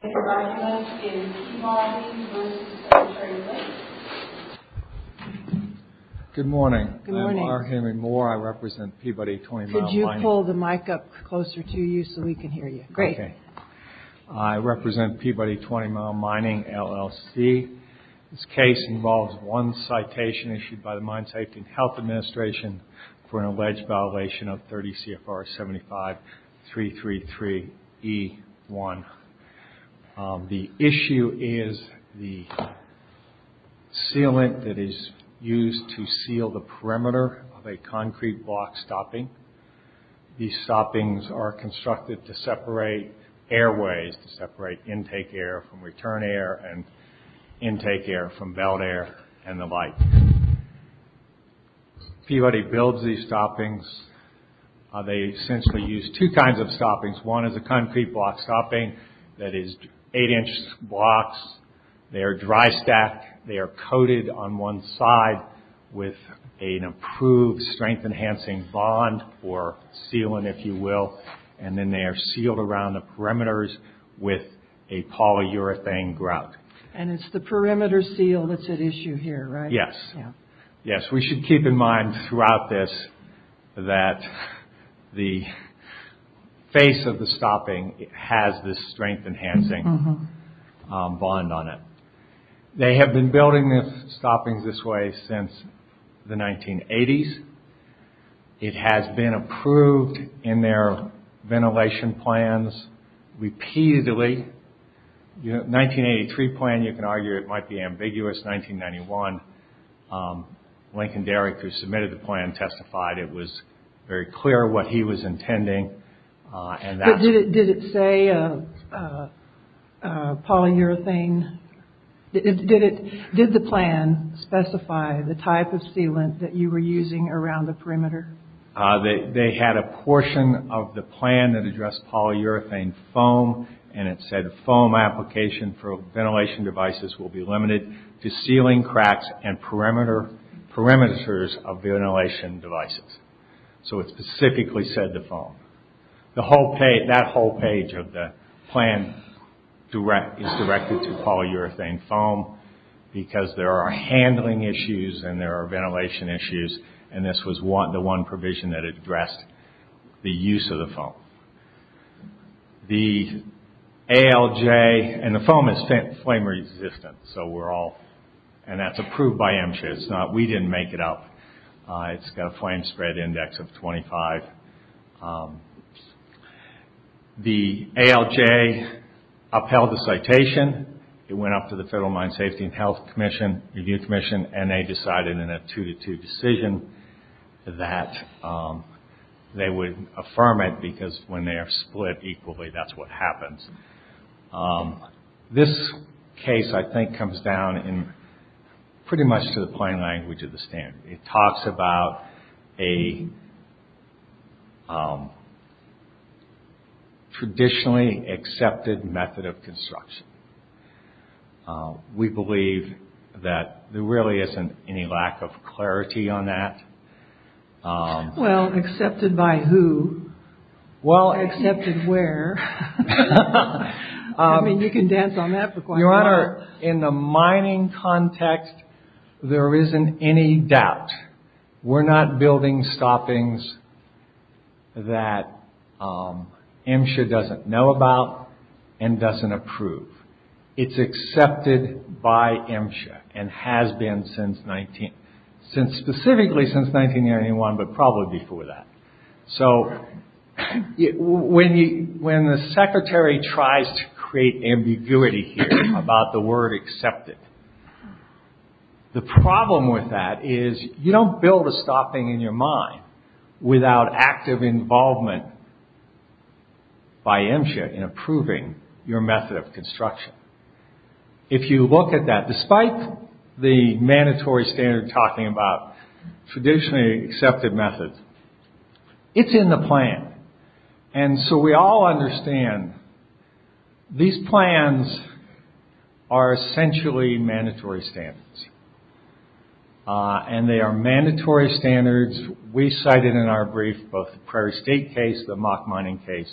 Good morning. I'm Larry Henry Moore. I represent Peabody Twentymile Mining. Could you pull the mic up closer to you so we can hear you? Great. I represent Peabody Twentymile Mining, LLC. This case involves one citation issued by the Mine Safety and Health Administration for an alleged violation of 30 CFR 75333E1. The issue is the sealant that is used to seal the perimeter of a concrete block stopping. These stoppings are constructed to separate airways, to separate intake air from return air and intake air from belt air and the like. Peabody builds these stoppings. They essentially use two kinds of stoppings. One is a concrete block stopping that is 8 inch blocks. They are dry stacked. They are coated on one side with an approved strength enhancing bond or sealant, if you will. And then they are sealed around the perimeters with a polyurethane grout. And it's the perimeter seal that's at issue here, right? Yes. We should keep in mind throughout this that the face of the stopping has this strength enhancing bond on it. They have been building stoppings this way since the 1980s. It has been approved in their ventilation plans repeatedly. 1983 plan, you can argue it might be ambiguous. 1991, Lincoln Derrick, who submitted the plan, testified it was very clear what he was intending. Did it say polyurethane? Did the plan specify the type of sealant that you were using around the perimeter? They had a portion of the plan that addressed polyurethane foam. And it said foam application for ventilation devices will be limited to sealing cracks and perimeters of ventilation devices. So it specifically said the foam. That whole page of the plan is directed to polyurethane foam because there are handling issues and there are ventilation issues. And this was the one provision that addressed the use of the foam. The ALJ, and the foam is flame resistant. And that's approved by MSHA. We didn't make it up. It's got a flame spread index of 25. The ALJ upheld the citation. It went up to the Federal Mine Safety and Health Review Commission. And they decided in a two-to-two decision that they would affirm it. Because when they're split equally, that's what happens. This case, I think, comes down pretty much to the plain language of the standard. It talks about a traditionally accepted method of construction. We believe that there really isn't any lack of clarity on that. Well, excepted by who? Excepted where? In the mining context, there isn't any doubt. We're not building stoppings that MSHA doesn't know about and doesn't approve. It's accepted by MSHA and has been specifically since 1991, but probably before that. When the Secretary tries to create ambiguity here about the word excepted, the problem with that is you don't build a stopping in your mind without active involvement by MSHA in approving your method of construction. If you look at that, despite the mandatory standard talking about traditionally accepted methods, it's in the plan. And so we all understand these plans are essentially mandatory standards. And they are mandatory standards. We cited in our brief both the Prairie State case, the mock mining case,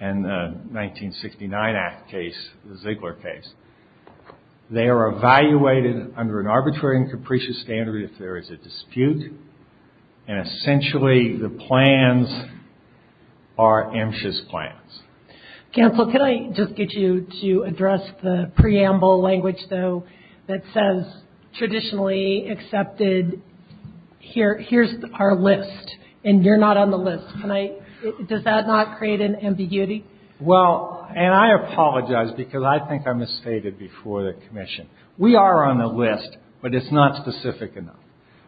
and the 1969 Act case, the Ziegler case. They are evaluated under an arbitrary and capricious standard if there is a dispute, and essentially the plans are MSHA's plans. Cancel. Can I just get you to address the preamble language, though, that says traditionally accepted. Here's our list, and you're not on the list. Does that not create an ambiguity? Well, and I apologize because I think I misstated before the commission. We are on the list, but it's not specific enough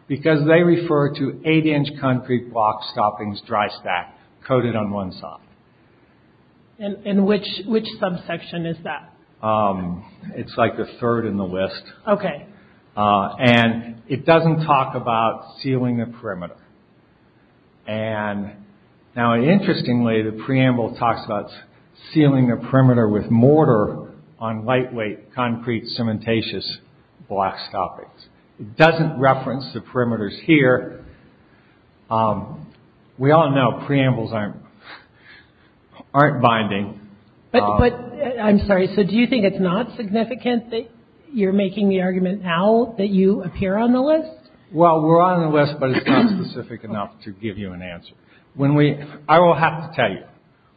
because they refer to And which subsection is that? It's like the third in the list. And it doesn't talk about sealing the perimeter. Now, interestingly, the preamble talks about sealing the perimeter with mortar on lightweight, concrete, cementitious, black stoppings. It doesn't reference the perimeters here. We all know preambles aren't binding. I'm sorry, so do you think it's not significant that you're making the argument now that you appear on the list? Well, we're on the list, but it's not specific enough to give you an answer. I will have to tell you,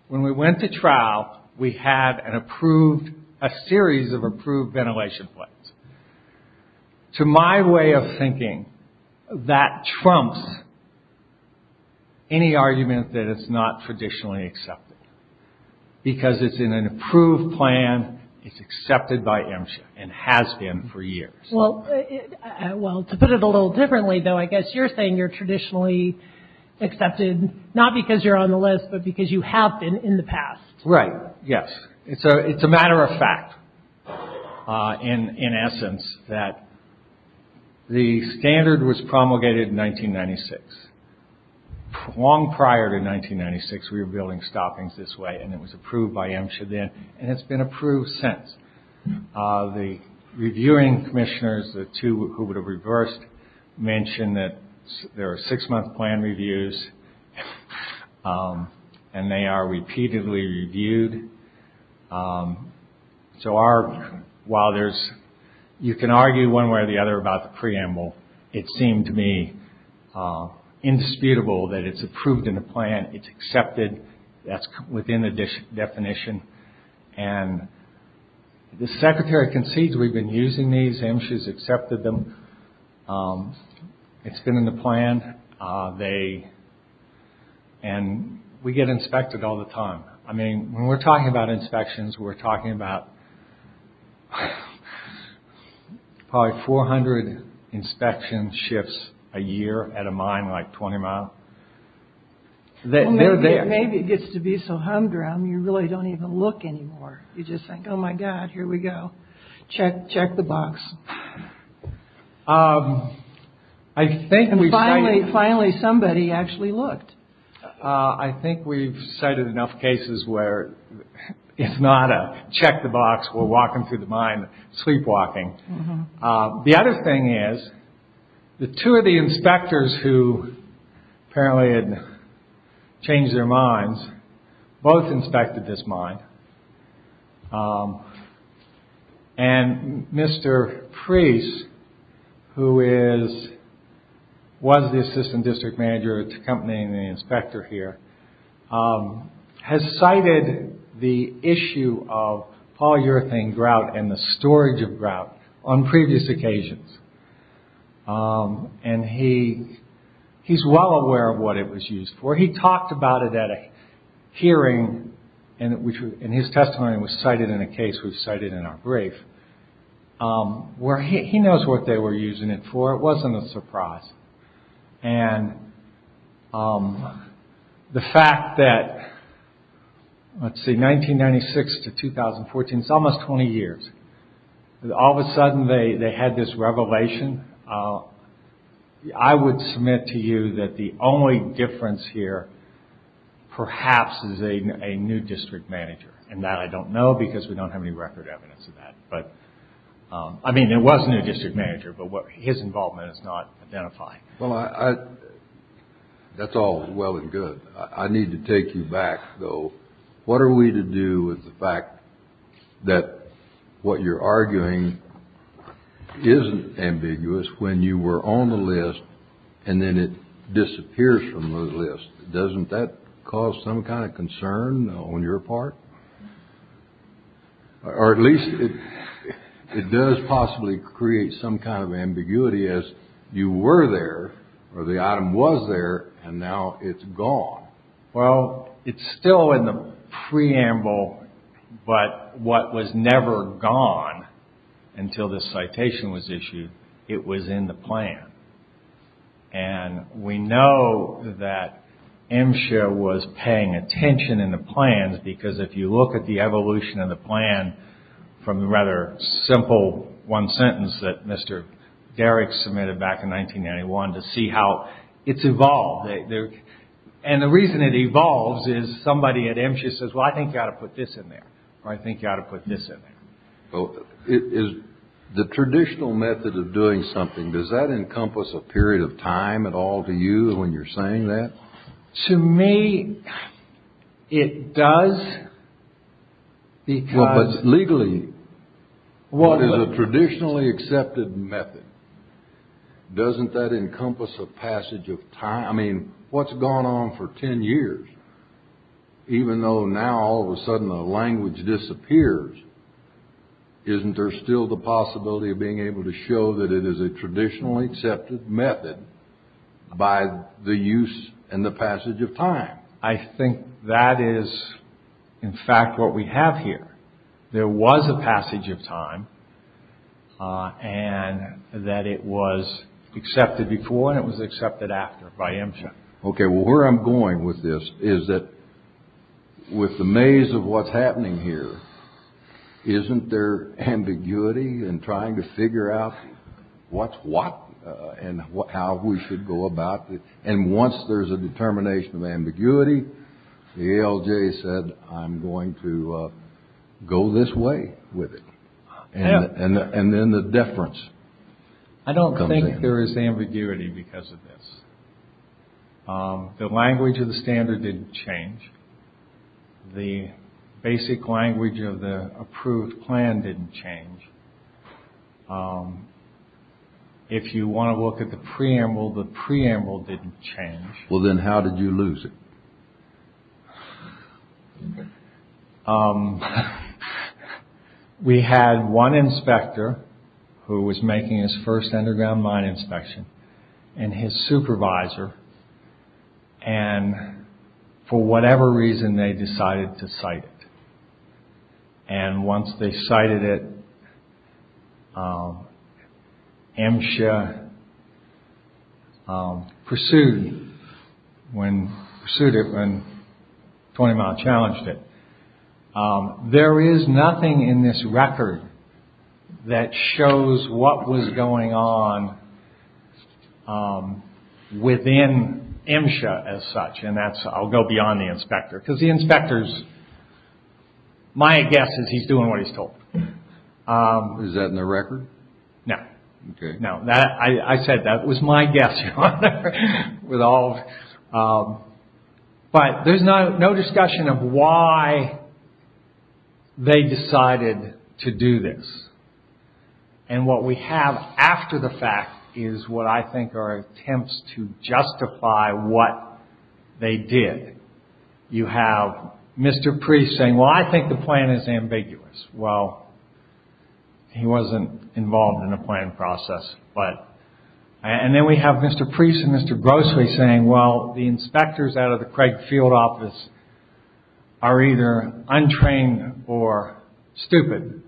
when we went to trial, we had a series of approved ventilation plates. To my way of thinking, that trumps any argument that it's not traditionally accepted because it's in an approved plan, it's accepted by MSHA, and has been for years. Well, to put it a little differently, though, I guess you're saying you're traditionally accepted not because you're on the list, but because you have been in the past. Right, yes. It's a matter of fact, in essence, that the standard was promulgated in 1996. Long prior to 1996, we were building stoppings this way, and it was approved by MSHA then, and it's been approved since. The reviewing commissioners, the two who would have reversed, mentioned that there are six-month plan reviews, and they are repeatedly reviewed. So while you can argue one way or the other about the preamble, it seemed to me indisputable that it's approved in the plan, it's accepted, that's within the definition. And the secretary concedes we've been using these, MSHA's accepted them, it's been in the plan, and we get inspected all the time. I mean, when we're talking about inspections, we're talking about probably 400 inspection shifts a year at a mine like 20 mile. Maybe it gets to be so humdrum, you really don't even look anymore. You just think, oh my God, here we go. Check the box. I think we've cited... Finally somebody actually looked. I think we've cited enough cases where it's not a check the box, we're walking through the mine, sleepwalking. The other thing is, the two of the inspectors who apparently had changed their minds, both inspected this mine. And Mr. Preece, who is, was the assistant district manager accompanying the inspector here, has cited the issue of polyurethane grout and the storage of grout on previous occasions. And he's well aware of what it was used for. He talked about it at a hearing, and his testimony was cited in a case we've cited in our brief, where he knows what they were using it for. It wasn't a surprise. And the fact that 1996 to 2014, it's almost 20 years, all of a sudden they had this revelation. I would submit to you that the only difference here, perhaps, is a new district manager. And that I don't know, because we don't have any record evidence of that. I mean, there was a new district manager, but his involvement is not identified. Well, that's all well and good. I need to take you back, though. What are we to do with the fact that what you're arguing isn't ambiguous when you were on the list and then it disappears from the list? Doesn't that cause some kind of ambiguity as you were there, or the item was there, and now it's gone? Well, it's still in the preamble, but what was never gone until this citation was issued, it was in the plan. And we know that MSHA was paying attention in the plans, because if you look at the evolution of the plan from the rather simple one sentence that Mr. Derrick submitted back in 1991 to see how it's evolved. And the reason it evolves is somebody at MSHA says, well, I think you ought to put this in there, or I think you ought to put this in there. The traditional method of doing something, does that encompass a period of time at all to you when you're saying that? To me, it does. What is a traditionally accepted method? Doesn't that encompass a passage of time? I mean, what's gone on for ten years? Even though now all of a sudden the language disappears, isn't there still the possibility of being able to show that it is a traditionally accepted method by the use and the passage of time? I think that is, in fact, what we have here. There was a passage of time, and that it was accepted before, and it was accepted after by MSHA. Okay, well, where I'm going with this is that with the maze of what's happening here, isn't there ambiguity in trying to figure out what's what and how we should go about it? And once there's a determination of ambiguity, the ALJ said, I'm going to go this way with it. And then the deference comes in. I don't think there is ambiguity because of this. The language of the standard didn't change. The basic language of the approved plan didn't change. If you want to look at the preamble, the preamble didn't change. Well, then how did you lose it? We had one inspector who was making his first underground mine inspection and his supervisor, and for whatever reason they decided to cite it. And once they cited it, MSHA pursued it when 20 Mile challenged it. There is nothing in this record that shows what was going on within MSHA as such, and that's, I'll go beyond the inspector, because the inspector's, my guess is he's doing what I said. That was my guess. But there's no discussion of why they decided to do this. And what we have after the fact is what I think are attempts to justify what they did. You have Mr. Priest saying, well, I think the plan is ambiguous. Well, he wasn't involved in the planning process. And then we have Mr. Priest and Mr. Grossly saying, well, the inspectors out of the Craig Field Office are either untrained or stupid.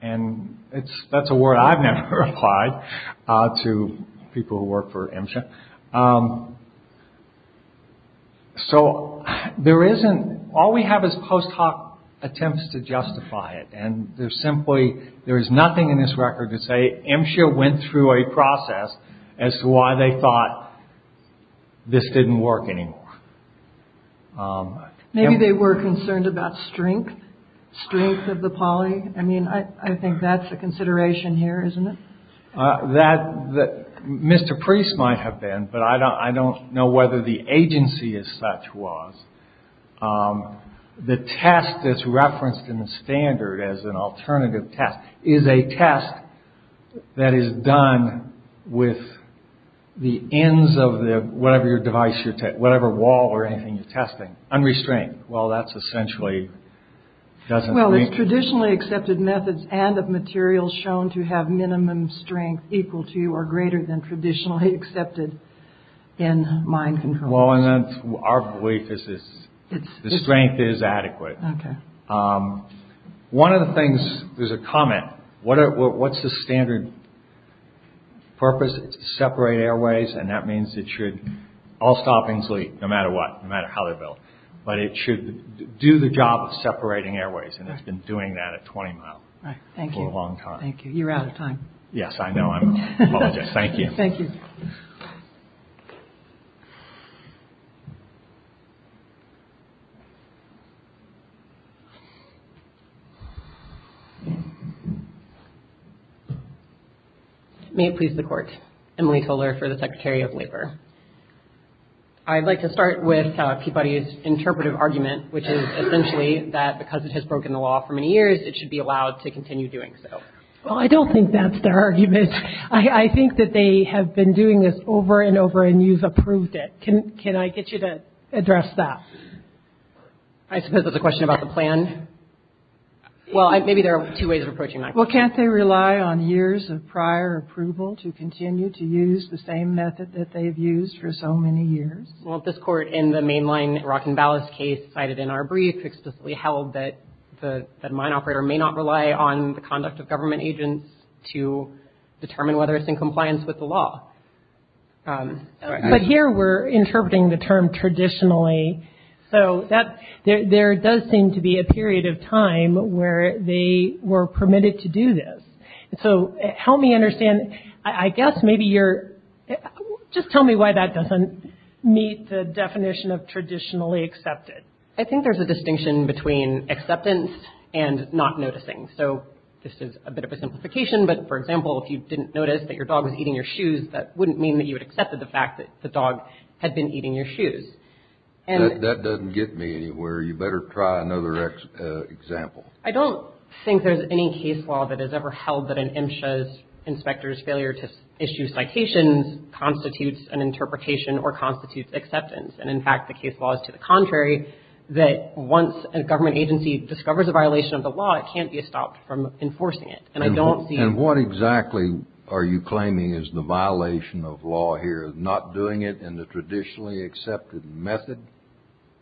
And that's a word I've never applied to people who work for MSHA. So there isn't, all we have is post hoc attempts to justify it. And there's simply, there is nothing in this record to say MSHA went through a process as to why they thought this didn't work anymore. Maybe they were concerned about strength, strength of the poly. I mean, I think that's a consideration here, isn't it? That Mr. Priest might have been, but I don't know whether the agency as such was. The test that's referenced in the standard as an alternative test is a test that is done with the ends of the, whatever your device, whatever wall or anything you're testing, unrestrained. Well, that's essentially Well, it's traditionally accepted methods and of materials shown to have minimum strength equal to or greater than traditionally accepted in mind control. Well, and then our belief is the strength is adequate. One of the things, there's a comment. What's the standard purpose? It's to separate airways. And that means it should, all stoppings no matter what, no matter how they're built, but it should do the job of separating airways. And it's been doing that at 20 miles for a long time. Thank you. You're out of time. Yes, I know. I'm sorry. Thank you. May it please the court. Emily Toler for the Secretary of Labor. I'd like to start with Kibari's interpretive argument, which is essentially that because it has broken the law for many years, it should be allowed to continue doing so. Well, I don't think that's their argument. I think that they have been doing this over and over and you've approved it. Can I get you to address that? I suppose that's a question about the plan. Well, maybe there are two ways of approaching that. Well, can't they rely on years of prior approval to continue to use the same method that they've used for so many years? Well, this court in the mainline Rock and Ballast case cited in our brief explicitly held that the mine operator may not rely on the conduct of government agents to determine whether it's in compliance with the law. But here we're interpreting the term traditionally. So that there does seem to be a period of time where they were permitted to do this. So help me understand. I guess maybe you're, just tell me why that doesn't meet the definition of traditionally accepted. I think there's a distinction between acceptance and not noticing. So this is a bit of a simplification, but for example, if you didn't notice that your dog was eating your shoes, that wouldn't mean that you had accepted the fact that the dog had been eating your shoes. That doesn't get me anywhere. You better try another example. I don't think there's any case law that has ever held that an MSHA's inspector's failure to issue citations constitutes an interpretation or constitutes acceptance. And in fact, the case law is to the contrary, that once a government agency discovers a violation of the law, it can't be stopped from enforcing it. And I don't see... And what exactly are you claiming is the violation of law here? Not doing it in the traditionally accepted method?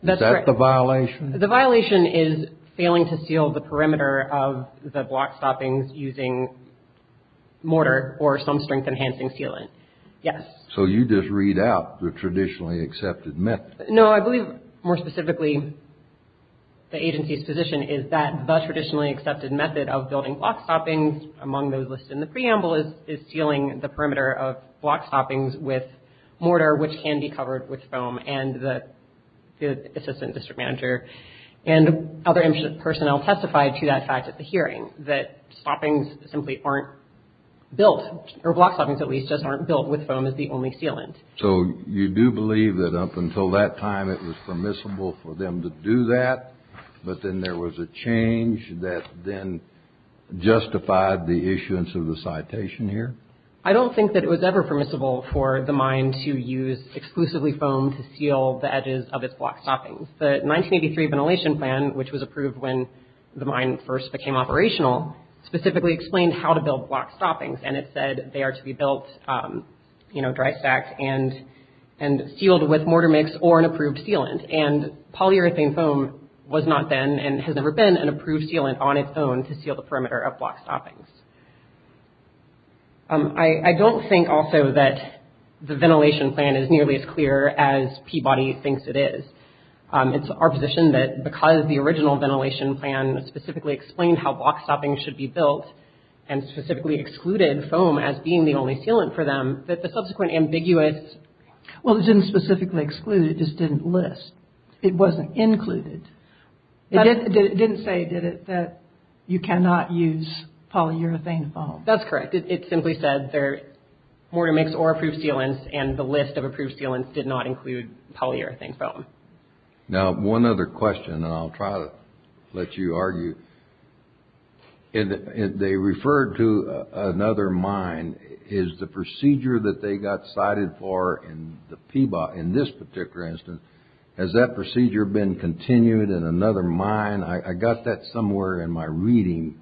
Is that the violation? The violation is failing to seal the perimeter of the block stoppings using mortar or some strength enhancing sealant. Yes. So you just read out the traditionally accepted method. No, I believe more specifically the agency's position is that the traditionally accepted method of building block stoppings is sealing the perimeter of block stoppings with mortar, which can be covered with foam. And the assistant district manager and other MSHA personnel testified to that fact at the hearing, that stoppings simply aren't built, or block stoppings at least, just aren't built with foam as the only sealant. So you do believe that up until that time it was permissible for them to do that, but then there was a change that then justified the issuance of the citation here? I don't think that it was ever permissible for the mine to use exclusively foam to seal the edges of its block stoppings. The 1983 ventilation plan, which was approved when the mine first became operational, specifically explained how to build block stoppings, and it said they are to be built dry stacked and sealed with mortar mix or an approved sealant. And polyurethane foam was not then, and has never been, an approved sealant on its own to seal the perimeter of block stoppings. I don't think also that the ventilation plan is nearly as clear as Peabody thinks it is. It's our position that because the original ventilation plan specifically explained how block stoppings should be built, and specifically excluded foam as being the only sealant for them, that the subsequent ambiguous... Well, it didn't specifically exclude, it just didn't list. It wasn't included. It didn't say, did it, that you cannot use polyurethane foam? That's correct. It simply said mortar mix or approved sealants, and the list of approved sealants did not include polyurethane foam. Now, one other question, and I'll try to let you argue. They referred to another mine. Is the procedure that they got cited for in the Peabody, in this particular instance, has that procedure been continued in another mine? I got that somewhere in my reading,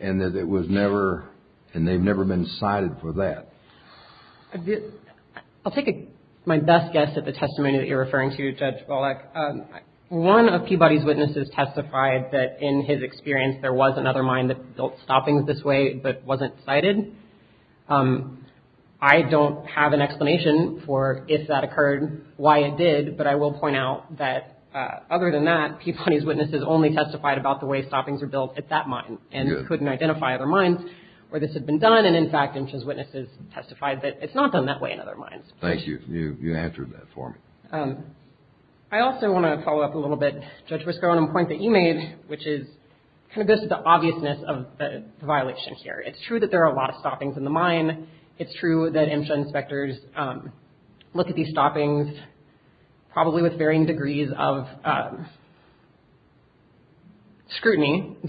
and that it was never, and they've never been cited for that. I'll take my best guess at the testimony that you're referring to, Judge Volokh. One of Peabody's witnesses testified that in his experience there was another mine that built stoppings this way, but wasn't cited. I don't have an explanation for if that occurred, why it did, but I will point out that other than that, Peabody's witnesses only testified about the way stoppings were built at that mine, and they testified that it's not done that way in other mines. Thank you. You answered that for me. I also want to follow up a little bit, Judge Wisco, on a point that you made, which is kind of just the obviousness of the violation here. It's true that there are a lot of stoppings in the mine. It's true that MSHA inspectors look at these stoppings, probably with varying degrees of caution, because,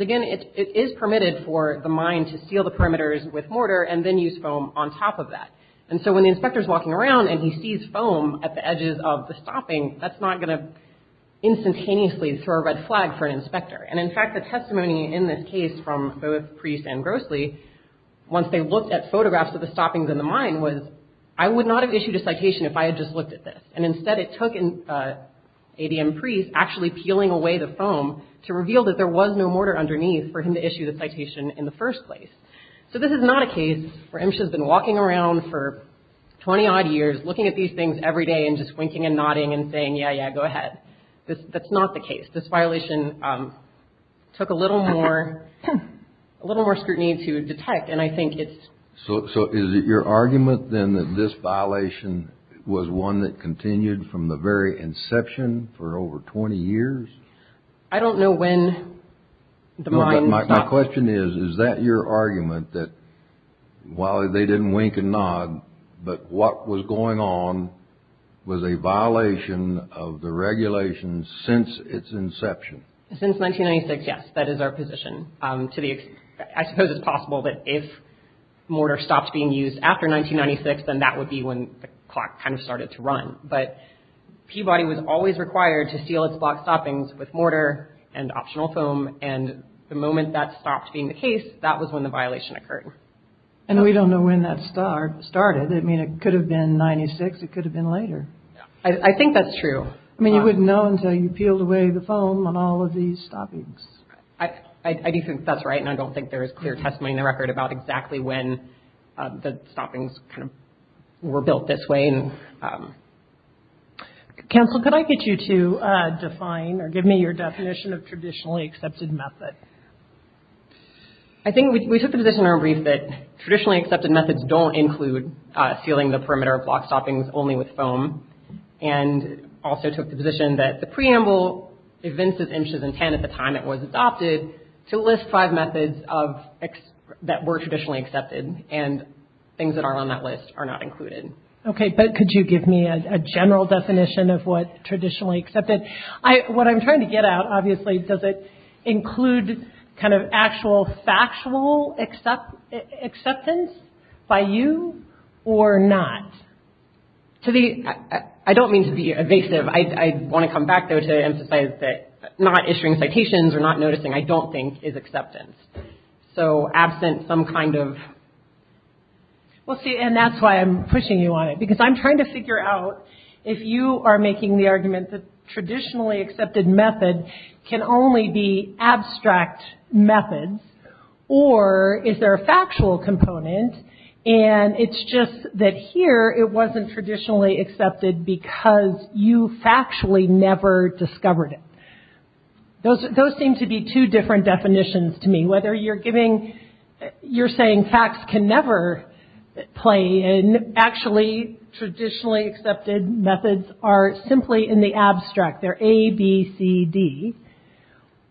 again, it is permitted for the mine to seal the perimeters with mortar and then use foam on top of that. And so when the inspector's walking around and he sees foam at the edges of the stopping, that's not going to instantaneously throw a red flag for an inspector. And in fact, the testimony in this case from both Priest and Grossly, once they looked at photographs of the stoppings in the mine, was, I would not have issued a citation if I had just looked at this. And instead it took 18 ADM Priest actually peeling away the foam to reveal that there was no mortar underneath for him to issue the citation in the first place. So this is not a case where MSHA has been walking around for 20-odd years looking at these things every day and just winking and nodding and saying, yeah, yeah, go ahead. That's not the case. This violation took a little more scrutiny to detect. And I think it's... So is it your argument, then, that this violation was one that continued from the very inception for over 20 years? I don't know when the mine stopped. My question is, is that your argument, that while they didn't wink and nod, but what was going on was a violation of the regulations since its inception? Since 1996, yes. That is our position. I suppose it's possible that if mortar stopped being used after 1996, then that would be when the clock kind of started to run. But Peabody was always required to seal its block stoppings with mortar and optional foam. And the moment that stopped being the case, that was when the violation occurred. And we don't know when that started. I mean, it could have been 96. It could have been later. I think that's true. I mean, you wouldn't know until you peeled away the foam on all of these stoppings. I do think that's right. And I don't think there is clear testimony in the record about exactly when the stoppings were built this way. Counsel, could I get you to define or give me your definition of traditionally accepted method? I think we took the position in our brief that traditionally accepted methods don't include sealing the perimeter of block stoppings only with foam, and also took the position that the preamble evinces inches and ten at the time it was adopted to list five methods that were traditionally accepted, and things that aren't on that list are not included. Okay, but could you give me a general definition of what traditionally accepted? What I'm trying to get at, obviously, does it include kind of actual factual acceptance by you or not? I don't mean to be evasive. I want to come back, though, to emphasize that not issuing citations or not noticing, I don't think, is acceptance. So absent some kind of... Well, see, and that's why I'm pushing you on it, because I'm trying to figure out if you are making the argument that traditionally accepted method can only be abstract methods, or is there a factual component, and it's just that here it wasn't traditionally accepted because you factually never discovered it. Those seem to be two different definitions to me. Whether you're saying facts can never play, and actually traditionally accepted methods are simply in the abstract. They're A, B, C, D.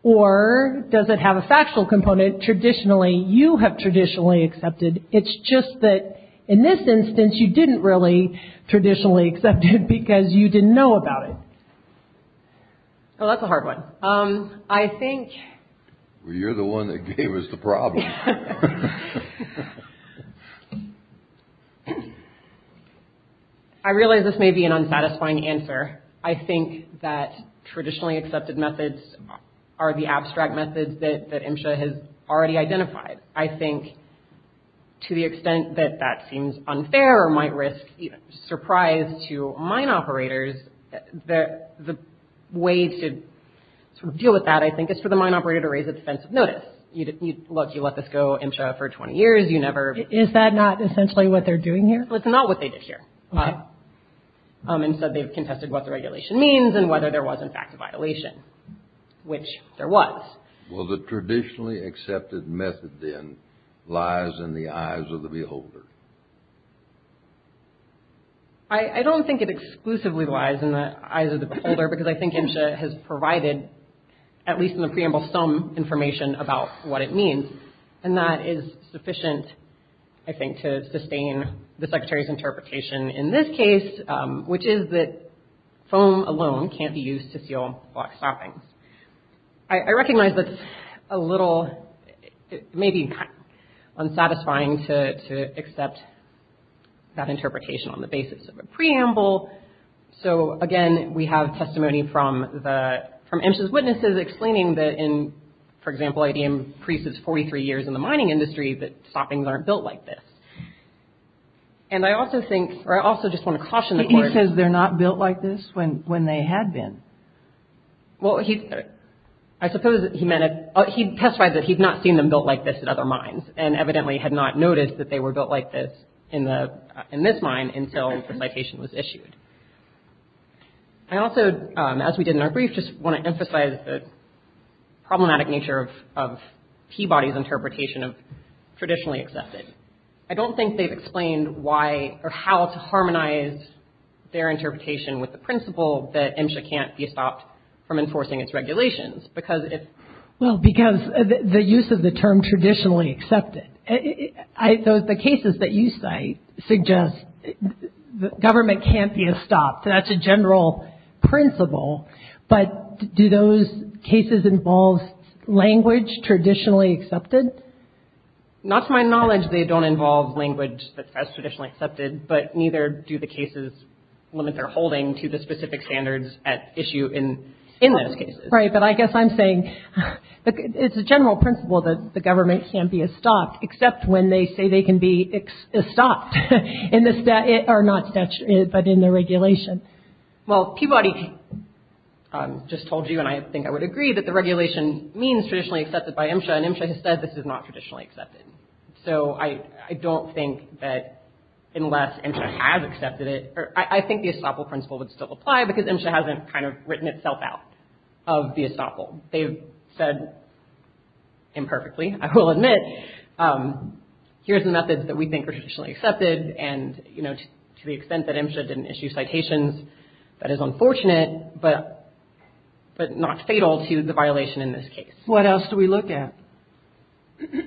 Or does it have a factual component? Traditionally, you have traditionally accepted. It's just that in this instance, you didn't really traditionally accept it because you didn't know about it. Oh, that's a hard one. I think... Well, you're the one that gave us the problem. I realize this may be an unsatisfying answer. I think that traditionally accepted methods are the abstract methods that MSHA has already identified. I think to the extent that that seems unfair or might risk surprise to mine operators, the way to deal with that, I think, is for the mine operator to raise a defensive notice. Look, you let this go, MSHA, for 20 years, you never... Is that not essentially what they're doing here? It's not what they did here. Instead, they've contested what the regulation means and whether there was, in fact, a violation, which there was. Well, the traditionally accepted method, then, lies in the eyes of the beholder, because I think MSHA has provided, at least in the preamble, some information about what it means. And that is sufficient, I think, to sustain the Secretary's interpretation in this case, which is that foam alone can't be used to seal block stoppings. I recognize that's a little... It may be unsatisfying to accept that interpretation on the basis of a preamble. So, again, we have testimony from MSHA's witnesses explaining that in, for example, ADM Preece's 43 years in the mining industry, that stoppings aren't built like this. And I also think, or I also just want to caution the court... He says they're not built like this when they had been. Well, I suppose he testified that he'd not seen them built like this at other mines, and evidently had not noticed that they were built like this in this mine until the citation was issued. I also, as we did in our brief, just want to emphasize the problematic nature of Peabody's interpretation of traditionally accepted. I don't think they've explained why or how to harmonize their interpretation with the principle that MSHA can't be stopped from enforcing its regulations. Because if... Well, because the use of the term traditionally accepted, the cases that you cite suggest that government can't be stopped. That's a general principle. But do those cases involve language traditionally accepted? Not to my knowledge, they don't involve language that's as traditionally accepted, but neither do the cases limit their holding to the specific standards at issue in those cases. Right, but I guess I'm saying it's a general principle that the government can't be stopped, except when they say they can be stopped in the statute, or not statute, but in the regulation. Well, Peabody just told you, and I think I would agree, that the regulation means traditionally accepted by MSHA, and MSHA has said this is not traditionally accepted. So I don't think that unless MSHA has accepted it... I think the estoppel principle would still apply, because MSHA hasn't kind of written itself out of the estoppel. They've said imperfectly, I will admit. Here's the methods that we think are traditionally accepted, and, you know, to the extent that MSHA didn't issue citations, that is unfortunate, but not fatal to the violation in this case. What else do we look at?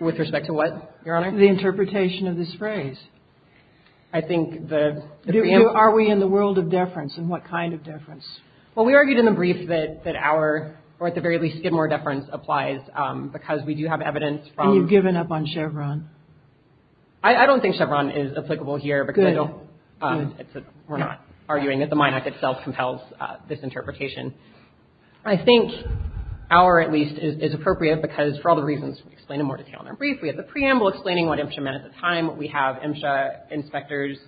With respect to what, Your Honor? The interpretation of this phrase. I think the... Are we in the world of deference, and what kind of deference? Well, we argued in the brief that our, or at the very least, Skidmore deference applies, because we do have evidence from... We're not arguing that the Mine Act itself compels this interpretation. I think our, at least, is appropriate, because for all the reasons explained in more detail in our brief, we have the preamble explaining what MSHA meant at the time, we have MSHA inspectors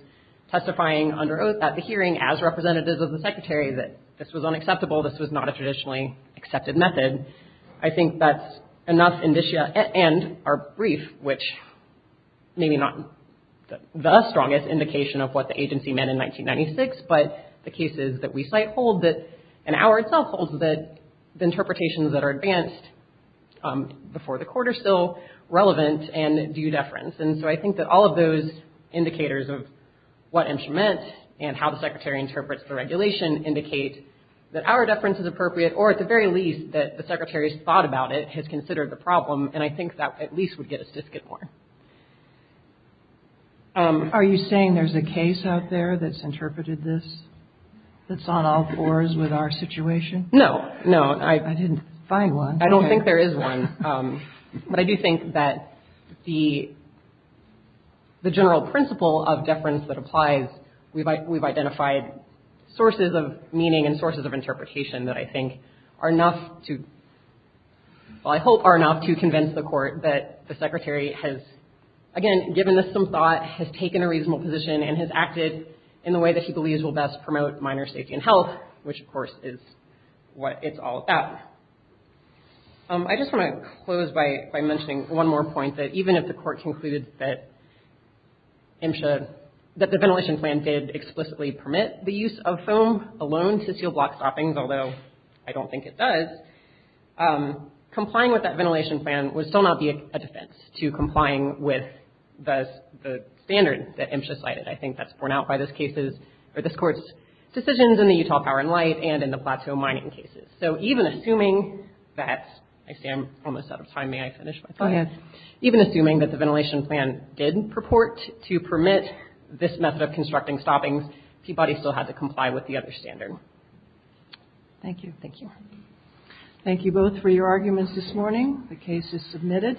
testifying under oath at the hearing as representatives of the Secretary that this was unacceptable, this was not a traditionally accepted method. I think that's enough indicia, and our brief, which maybe not the strongest indication of what the agency meant in 1996, but the cases that we cite hold that, and our itself holds that the interpretations that are advanced before the Court are still relevant and do deference, and so I think that all of those indicators of what MSHA meant and how the Secretary interprets the regulation indicate that our deference is appropriate, or at the very least, that the Secretary's thought about it has considered the problem, and I think that at least would get us to Skidmore. Are you saying there's a case out there that's interpreted this, that's on all fours with our situation? No, no. I didn't find one. I don't think there is one, but I do think that the general principle of deference that applies, we've identified sources of meaning and sources of interpretation that I think are enough to, well, I hope are enough to convince the Court that the Secretary has, again, given this some thought, has taken a reasonable position, and has acted in the way that he believes will best promote minor safety and health, which of course is what it's all about. I just want to close by mentioning one more point, that even if the Court concluded that MSHA, that the ventilation plan did explicitly permit the use of foam alone to seal block stoppings, although I don't think it does, complying with that ventilation plan would still not be a defense to complying with the standard that MSHA cited. I think that's borne out by this Court's decisions in the Utah Power and Light and in the Plateau Mining cases. So even assuming that, I see I'm almost out of time. May I finish? Even assuming that the ventilation plan did purport to permit this method of constructing stoppings, Peabody still had to comply with the other standard. Thank you. Thank you. Thank you both for your arguments this morning. The case is submitted.